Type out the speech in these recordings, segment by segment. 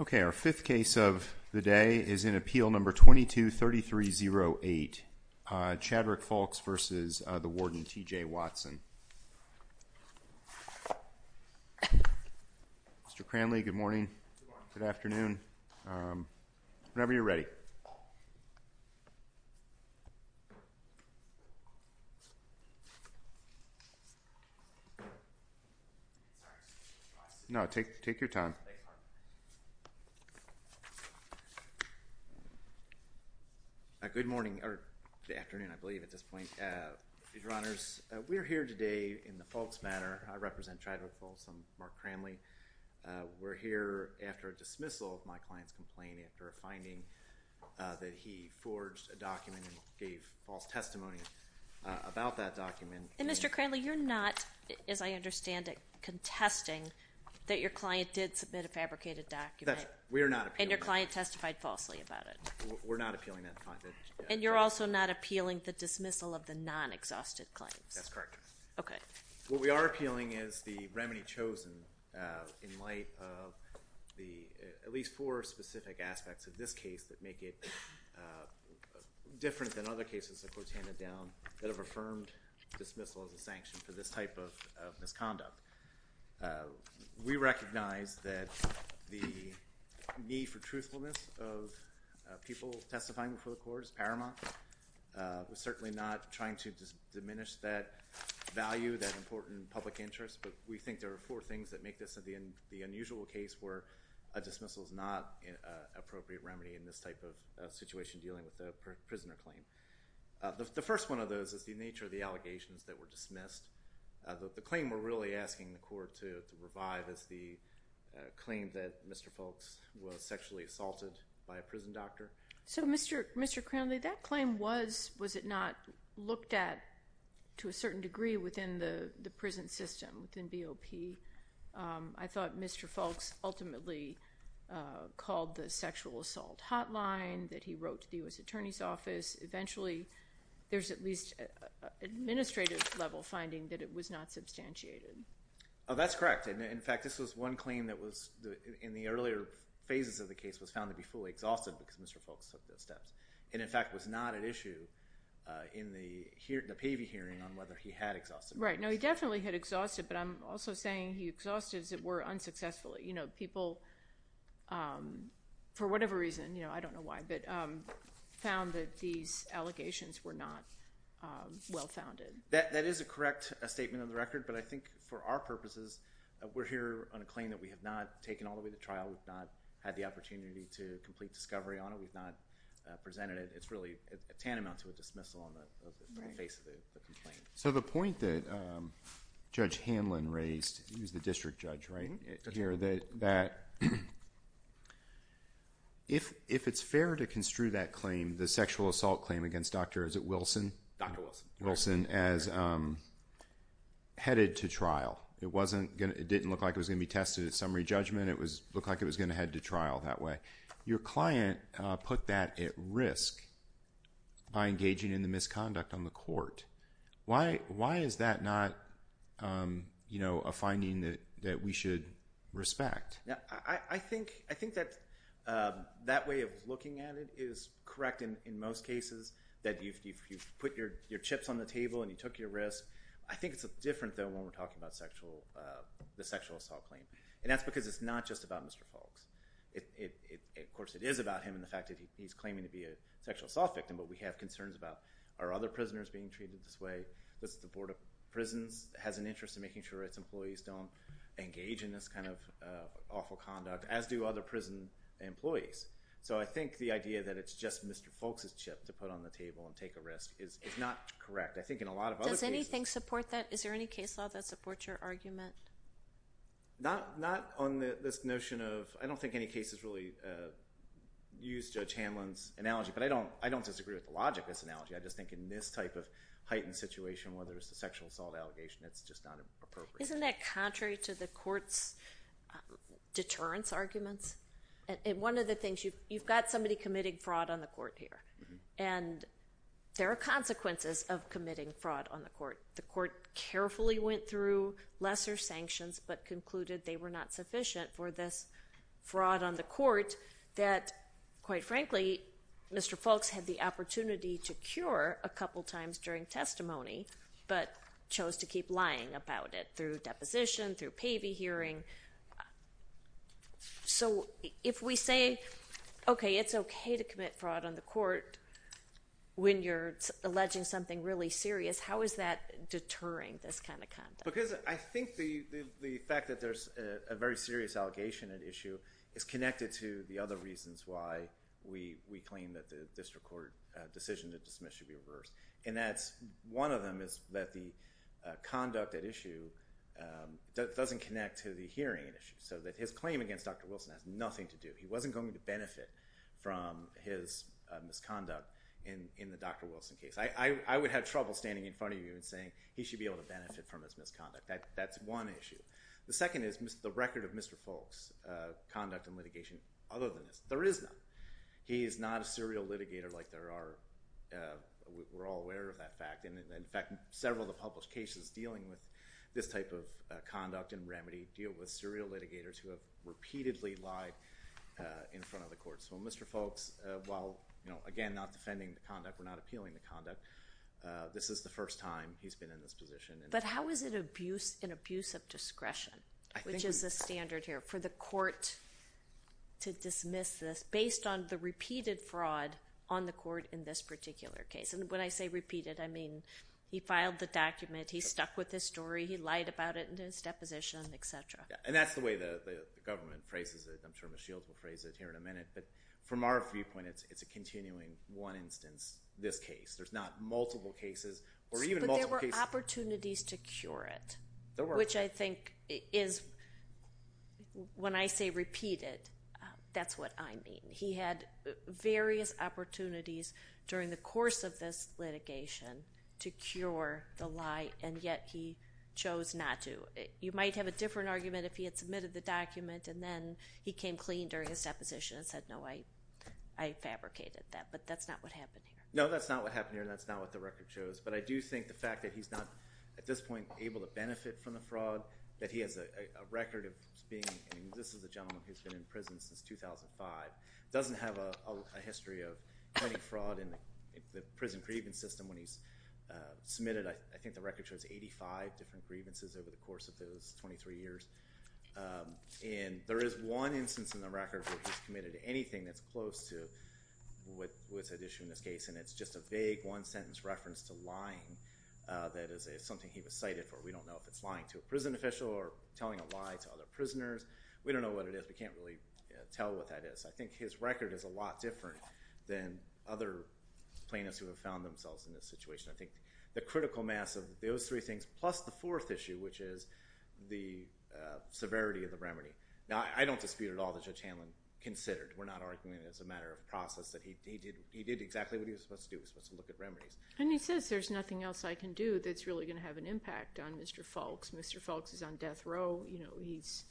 Okay, our fifth case of the day is in appeal number 22 3308 Chadwick Fulks versus the warden TJ Watson Mr. Cranley, good morning. Good afternoon. Whenever you're ready No, take take your time A Good morning or afternoon, I believe at this point Your honors. We're here today in the folks matter. I represent Chadwick Fulks. I'm Mark Cranley We're here after a dismissal of my client's complaint after a finding That he forged a document and gave false testimony About that document. Mr. Cranley. You're not as I understand it Contesting that your client did submit a fabricated document. We are not and your client testified falsely about it We're not appealing that and you're also not appealing the dismissal of the non-exhausted claims. That's correct Okay, what we are appealing is the remedy chosen in light of the at least four specific aspects of this case that make it Different than other cases that were handed down that have affirmed dismissal as a sanction for this type of Misconduct we recognize that the need for truthfulness of people testifying before the court is paramount We're certainly not trying to diminish that value that important public interest but we think there are four things that make this at the end the unusual case where a dismissal is not an Appropriate remedy in this type of situation dealing with the prisoner claim The first one of those is the nature of the allegations that were dismissed The claim we're really asking the court to revive is the Claim that mr. Folks was sexually assaulted by a prison doctor. So mr. Mr Crowley that claim was was it not looked at to a certain degree within the the prison system within BOP? I thought mr. Folks ultimately Called the sexual assault hotline that he wrote to the US Attorney's Office eventually, there's at least a Administrative level finding that it was not substantiated. Oh, that's correct And in fact, this was one claim that was in the earlier phases of the case was found to be fully exhausted Because mr. Folks took those steps and in fact was not an issue In the here the PV hearing on whether he had exhausted right? No, he definitely had exhausted But I'm also saying he exhausted as it were unsuccessfully, you know people For whatever reason, you know, I don't know why but Found that these allegations were not Well founded that that is a correct a statement of the record But I think for our purposes We're here on a claim that we have not taken all the way to trial We've not had the opportunity to complete discovery on it. We've not Presented it. It's really a tantamount to a dismissal on the face of it so the point that Judge Hanlon raised he was the district judge right here that that If if it's fair to construe that claim the sexual assault claim against dr. Is it Wilson Wilson as Headed to trial it wasn't gonna it didn't look like it was gonna be tested at summary judgment It was look like it was gonna head to trial that way your client put that at risk By engaging in the misconduct on the court. Why why is that not? You know a finding that that we should respect. Yeah, I think I think that That way of looking at it is correct in most cases that you've put your your chips on the table And you took your risk. I think it's a different though when we're talking about sexual The sexual assault claim and that's because it's not just about mr. Folks It of course it is about him and the fact that he's claiming to be a sexual assault victim But we have concerns about our other prisoners being treated this way This is the Board of Prisons has an interest in making sure its employees don't engage in this kind of Awful conduct as do other prison employees. So I think the idea that it's just mr Folks is chipped to put on the table and take a risk is it's not correct I think in a lot of anything support that is there any case law that supports your argument? Not not on this notion of I don't think any cases really Use judge Hanlon's analogy, but I don't I don't disagree with the logic this analogy I just think in this type of heightened situation, whether it's a sexual assault allegation, it's just not appropriate Isn't that contrary to the courts? Deterrence arguments and one of the things you've got somebody committing fraud on the court here and There are consequences of committing fraud on the court the court carefully went through lesser sanctions But concluded they were not sufficient for this fraud on the court that quite frankly Mr. Folks had the opportunity to cure a couple times during testimony But chose to keep lying about it through deposition through Pavey hearing So if we say Okay, it's okay to commit fraud on the court When you're alleging something really serious, how is that? Deterring this kind of content because I think the the fact that there's a very serious Allegation an issue is connected to the other reasons why we we claim that the district court Decision to dismiss should be reversed and that's one of them is that the conduct at issue That doesn't connect to the hearing an issue so that his claim against. Dr. Wilson has nothing to do He wasn't going to benefit from his Misconduct in in the dr. Wilson case I would have trouble standing in front of you and saying he should be able to benefit from this misconduct that that's one issue The second is mr. The record of mr. Folks Conduct and litigation other than this there is no he is not a serial litigator like there are We're all aware of that fact And in fact several the published cases dealing with this type of conduct and remedy deal with serial litigators who have repeatedly lied In front of the courts. Well, mr. Folks while you know again not defending the conduct. We're not appealing the conduct This is the first time he's been in this position But how is it abuse an abuse of discretion which is a standard here for the court To dismiss this based on the repeated fraud on the court in this particular case And when I say repeated, I mean he filed the document. He stuck with this story He lied about it in his deposition and etc. And that's the way the government phrases it I'm sure Michelle's will phrase it here in a minute. But from our viewpoint, it's it's a continuing one instance this case Multiple cases Opportunities to cure it which I think is When I say repeated, that's what I mean He had various opportunities during the course of this litigation to cure the lie and yet he chose not to you might have a different argument if he had submitted the document and then he came clean during his deposition and said No, I I Fabricated that but that's not what happened. No, that's not what happened here that's not what the record shows but I do think the fact that he's not at this point able to benefit from the fraud that He has a record of being and this is a gentleman. He's been in prison since 2005 doesn't have a history of any fraud in the prison grievance system when he's Submitted I think the record shows 85 different grievances over the course of those 23 years And there is one instance in the record where he's committed to anything. That's close to What what's at issue in this case and it's just a vague one-sentence reference to lying That is something he was cited for we don't know if it's lying to a prison official or telling a lie to other prisoners We don't know what it is. We can't really tell what that is. I think his record is a lot different than other Plaintiffs who have found themselves in this situation. I think the critical mass of those three things plus the fourth issue, which is the Severity of the remedy now, I don't dispute at all the judge Hanlon considered We're not arguing as a matter of process that he did he did exactly what he was supposed to do Let's look at remedies and he says there's nothing else I can do. That's really gonna have an impact on. Mr. Folks Mr. Folks is on death row, you know, he's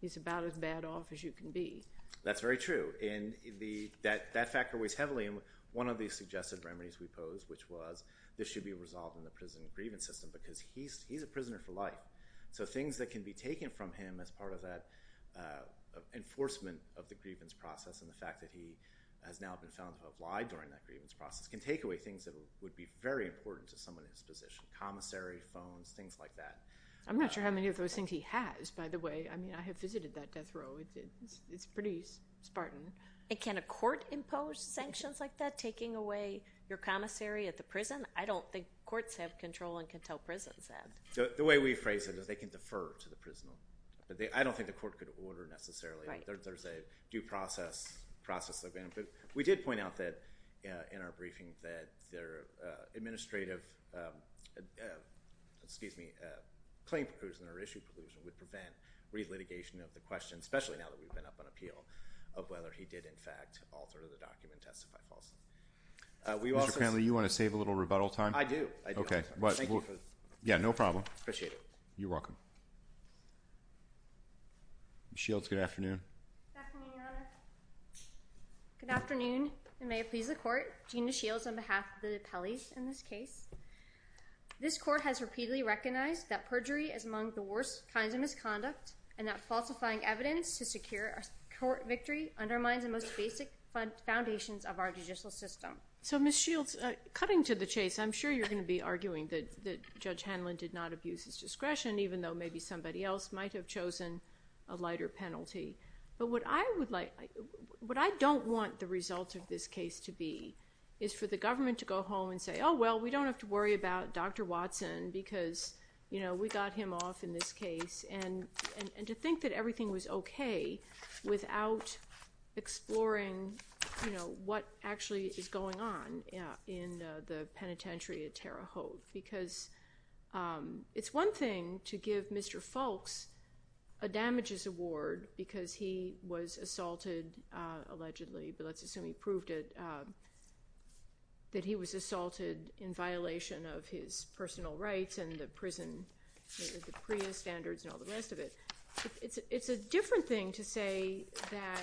he's about as bad off as you can be That's very true in the that that factor weighs heavily in one of these suggested remedies We posed which was this should be resolved in the prison grievance system because he's he's a prisoner for life So things that can be taken from him as part of that Enforcement of the grievance process and the fact that he has now been found But why during that grievance process can take away things that would be very important to someone in his position Commissary phones things like that. I'm not sure how many of those things he has by the way I mean I have visited that death row It's pretty Spartan it can a court impose sanctions like that taking away your commissary at the prison I don't think courts have control and can tell prisons that so the way we phrase it is they can defer to the prisoner But they I don't think the court could order necessarily. There's a due process Process of benefit. We did point out that in our briefing that their administrative Excuse me Claim proposal in our issue proposal would prevent Relitigation of the question especially now that we've been up on appeal of whether he did in fact alter the document testify false We also family you want to save a little rebuttal time. I do. Okay, but yeah, no problem. Appreciate it. You're welcome Shields good afternoon Good afternoon, and may it please the court Gina Shields on behalf of the Pelley's in this case This court has repeatedly recognized that perjury is among the worst kinds of misconduct and that falsifying evidence to secure Victory undermines the most basic Foundations of our judicial system. So miss Shields cutting to the chase I'm sure you're gonna be arguing that the judge Hanlon did not abuse his discretion Even though maybe somebody else might have chosen a lighter penalty But what I would like what I don't want the result of this case to be is for the government to go home and say Oh, well, we don't have to worry about. Dr. Watson because you know We got him off in this case and and and to think that everything was okay without Exploring, you know, what actually is going on in the penitentiary at Terre Haute because It's one thing to give mr. Foulkes a Damages award because he was assaulted Allegedly, but let's assume he proved it That he was assaulted in violation of his personal rights and the prison Prius standards and all the rest of it. It's it's a different thing to say that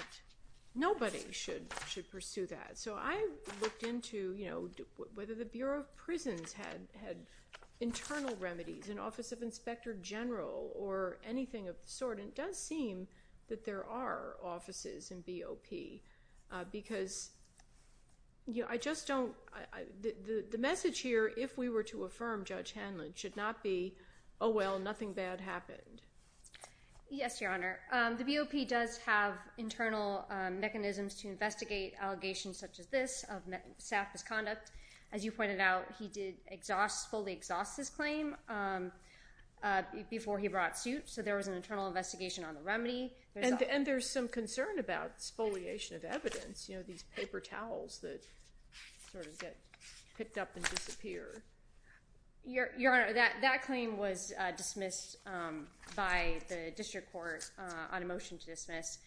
Nobody should should pursue that so I looked into you know Whether the Bureau of Prisons had had Internal remedies in Office of Inspector General or anything of the sort and does seem that there are offices in BOP because You know, I just don't The message here if we were to affirm judge Hanlon should not be. Oh, well, nothing bad happened Yes, your honor. The BOP does have internal mechanisms to investigate allegations such as this of Staff misconduct as you pointed out. He did exhaust fully exhaust his claim Before he brought suit so there was an internal investigation on the remedy and there's some concern about exfoliation of evidence, you know these paper towels that Picked up and disappear Your your honor that that claim was dismissed By the district court on a motion to dismiss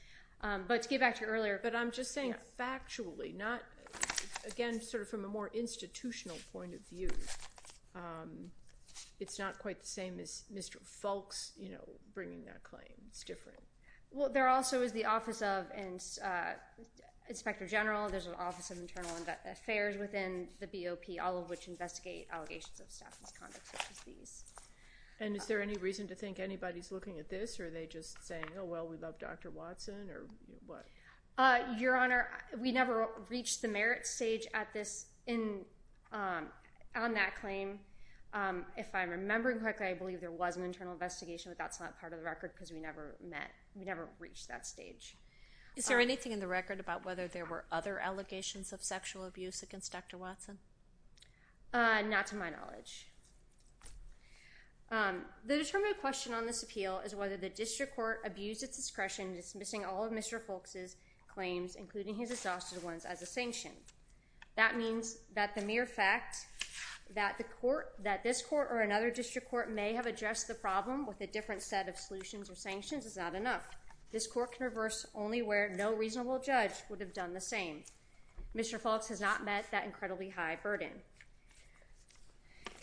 But to get back to earlier, but I'm just saying it factually not Again, sort of from a more institutional point of view It's not quite the same as mr. Folks, you know bringing that claim it's different. Well, there also is the office of and Inspector General there's an office of internal affairs within the BOP all of which investigate allegations of staff misconduct And is there any reason to think anybody's looking at this or are they just saying oh well we love dr. Watson or what? Your honor we never reached the merit stage at this in on that claim If I'm remembering correctly, I believe there was an internal investigation But that's not part of the record because we never met we never reached that stage Is there anything in the record about whether there were other allegations of sexual abuse against dr. Watson? Not to my knowledge The determined question on this appeal is whether the district court abused its discretion dismissing all of mr Folks's claims including his exhausted ones as a sanction. That means that the mere fact That the court that this court or another district court may have addressed the problem with a different set of solutions or sanctions It's not enough. This court can reverse only where no reasonable judge would have done the same Mr. Folks has not met that incredibly high burden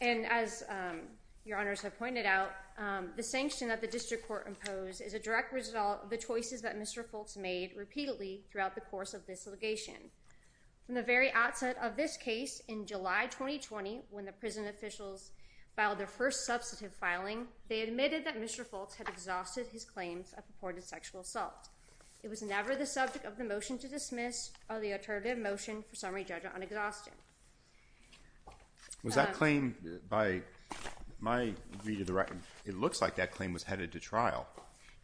and as Your honors have pointed out the sanction that the district court imposed is a direct result of the choices that mr Folks made repeatedly throughout the course of this litigation From the very outset of this case in July 2020 when the prison officials filed their first substantive filing They admitted that mr. Folks had exhausted his claims of purported sexual assault It was never the subject of the motion to dismiss or the alternative motion for summary judgment on exhaustion Was that claim by My read of the record. It looks like that claim was headed to trial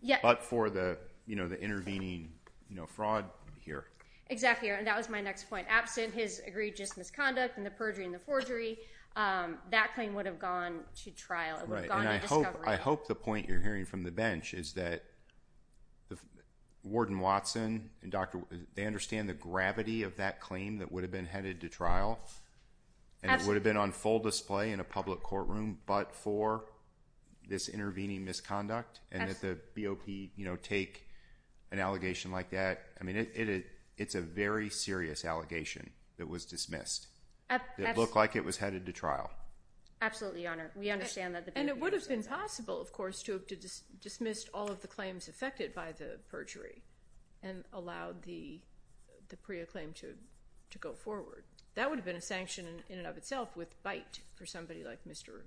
Yeah, but for the you know, the intervening, you know fraud here exactly and that was my next point absent his egregious misconduct and the perjury in the forgery That claim would have gone to trial. I hope I hope the point you're hearing from the bench. Is that the Warden Watson and dr. They understand the gravity of that claim that would have been headed to trial and it would have been on full display in a public courtroom, but for This intervening misconduct and that the BOP, you know take an allegation like that I mean it it it's a very serious allegation that was dismissed Look like it was headed to trial Absolutely, your honor we understand that the and it would have been possible of course to have to just dismissed all of the claims affected by the perjury and allowed the The Priya claim to to go forward that would have been a sanction in and of itself with bite for somebody like mr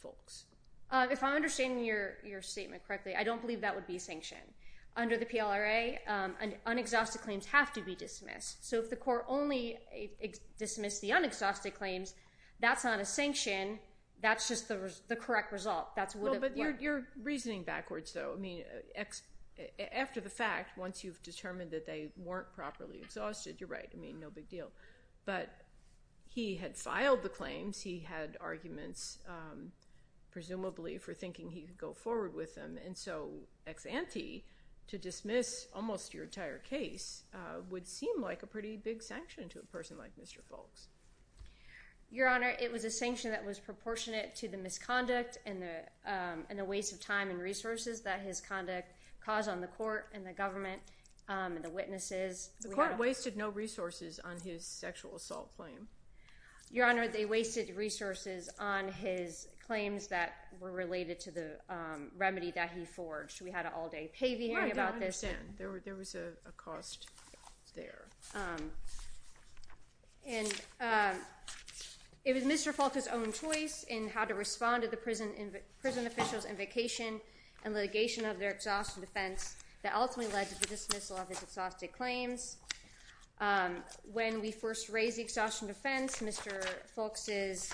Folks if I'm understanding your your statement correctly, I don't believe that would be sanctioned under the PLR a unexhausted claims have to be dismissed. So if the court only Dismissed the unexhausted claims that's not a sanction. That's just the correct result. That's what you're reasoning backwards though. I mean After the fact once you've determined that they weren't properly exhausted. You're right. I mean no big deal, but He had filed the claims he had arguments Presumably for thinking he could go forward with them. And so ex-ante to dismiss almost your entire case Would seem like a pretty big sanction to a person like mr. Folks your honor it was a sanction that was proportionate to the misconduct and the And the waste of time and resources that his conduct caused on the court and the government And the witnesses the court wasted no resources on his sexual assault claim Your honor they wasted resources on his claims that were related to the Remedy that he forged we had an all-day pay the hearing about this and there were there was a cost there And It was mr Fulton's own choice in how to respond to the prison in prison officials and vacation and litigation of their exhaustion defense That ultimately led to the dismissal of his exhausted claims When we first raised the exhaustion defense, mr. Folks is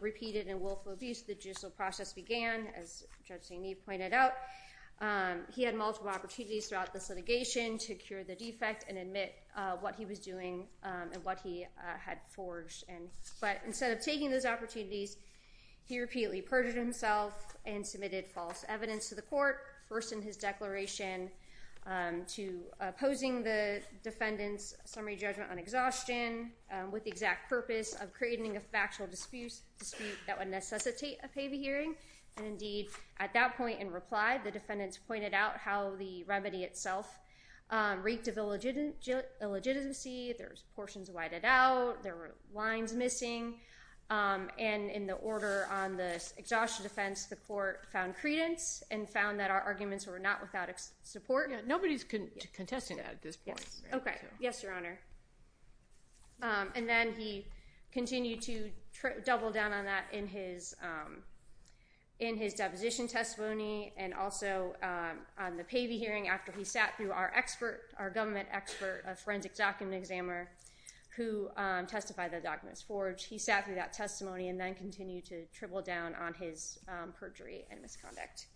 Repeated and willful abuse the judicial process began as judging me pointed out He had multiple opportunities throughout this litigation to cure the defect and admit what he was doing And what he had forged and but instead of taking those opportunities He repeatedly perjured himself and submitted false evidence to the court first in his declaration To opposing the defendants summary judgment on exhaustion with the exact purpose of creating a factual disputes dispute that would necessitate a pay the hearing and Indeed at that point in reply the defendants pointed out how the remedy itself reeked of illegitimate Illegitimacy, there's portions whited out there were lines missing And in the order on this exhaustion defense the court found credence and found that our arguments were not without its support Nobody's couldn't contesting at this point. Okay. Yes, Your Honor And then he continued to double down on that in his in his deposition testimony and also On the pay the hearing after he sat through our expert our government expert a forensic document examiner Who testified the documents forged he sat through that testimony and then continued to triple down on his perjury and misconduct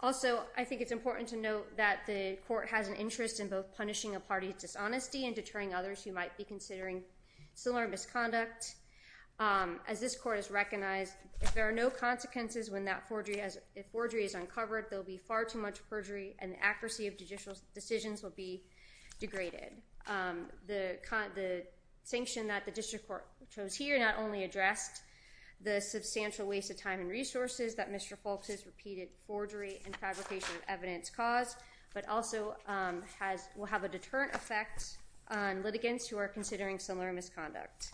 Also, I think it's important to note that the court has an interest in both punishing a party's dishonesty and deterring others who might be considering similar misconduct As this court is recognized if there are no consequences when that forgery as a forgery is uncovered There'll be far too much perjury and the accuracy of judicial decisions will be degraded the Sanction that the district court chose here not only addressed The substantial waste of time and resources that mr. Folks's repeated forgery and fabrication of evidence caused but also has will have a deterrent effect Litigants who are considering similar misconduct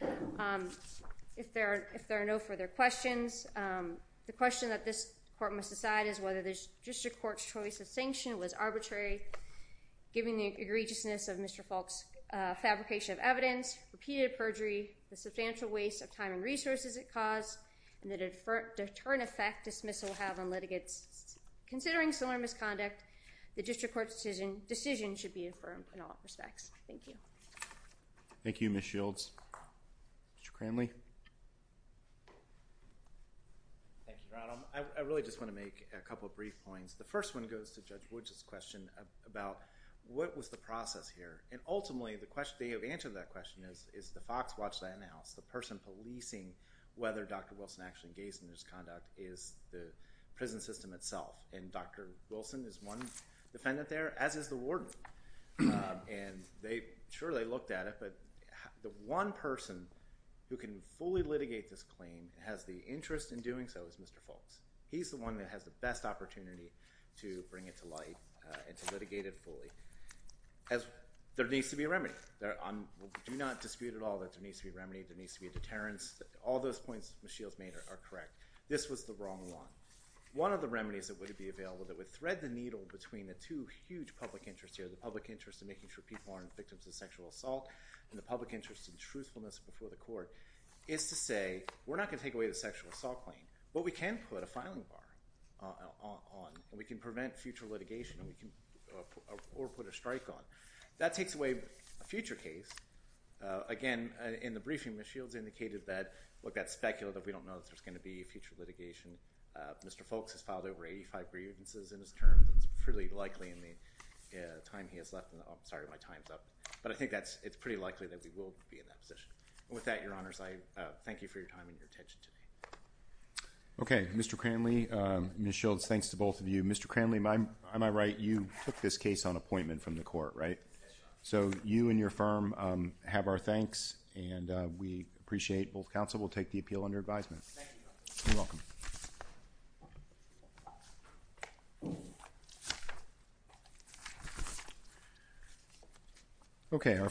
If there if there are no further questions The question that this court must decide is whether there's just a court's choice of sanction was arbitrary Giving the egregiousness of mr. Folks fabrication of evidence repeated perjury the substantial waste of time and resources it caused and that it deterrent effect dismissal will have on litigants Considering similar misconduct the district court decision decision should be affirmed in all respects. Thank you Thank You miss shields Mr. Cranley I really just want to make a couple of brief points The first one goes to judge woods's question about what was the process here? And ultimately the question they have answered that question is is the Fox watch that in the house the person policing whether dr Wilson actually engaged in this conduct is the prison system itself and dr. Wilson is one defendant there as is the warden And they surely looked at it But the one person who can fully litigate this claim has the interest in doing so as mr Folks, he's the one that has the best opportunity to bring it to light and to litigate it fully As there needs to be a remedy there I'm do not dispute at all that there needs to be remedy that needs to be a deterrence All those points the shields made are correct This was the wrong one One of the remedies that would be available that would thread the needle between the two huge public interest here the public interest in making Sure, people aren't victims of sexual assault and the public interest in truthfulness before the court is to say We're not going to take away the sexual assault claim, but we can put a filing bar We can prevent future litigation Or put a strike on that takes away a future case Again in the briefing the shields indicated that what that specular that we don't know if there's going to be a future litigation Mr. Folks has filed over 85 grievances in his terms. It's pretty likely in the Time he has left and I'm sorry my time's up But I think that's it's pretty likely that we will be in that position with that your honors I thank you for your time and your attention Okay, mr. Cranley miss shields. Thanks to both of you. Mr. Cranley. I'm am I right? You took this case on appointment from the court, right? So you and your firm have our thanks and we appreciate both counsel will take the appeal under advisement Thank you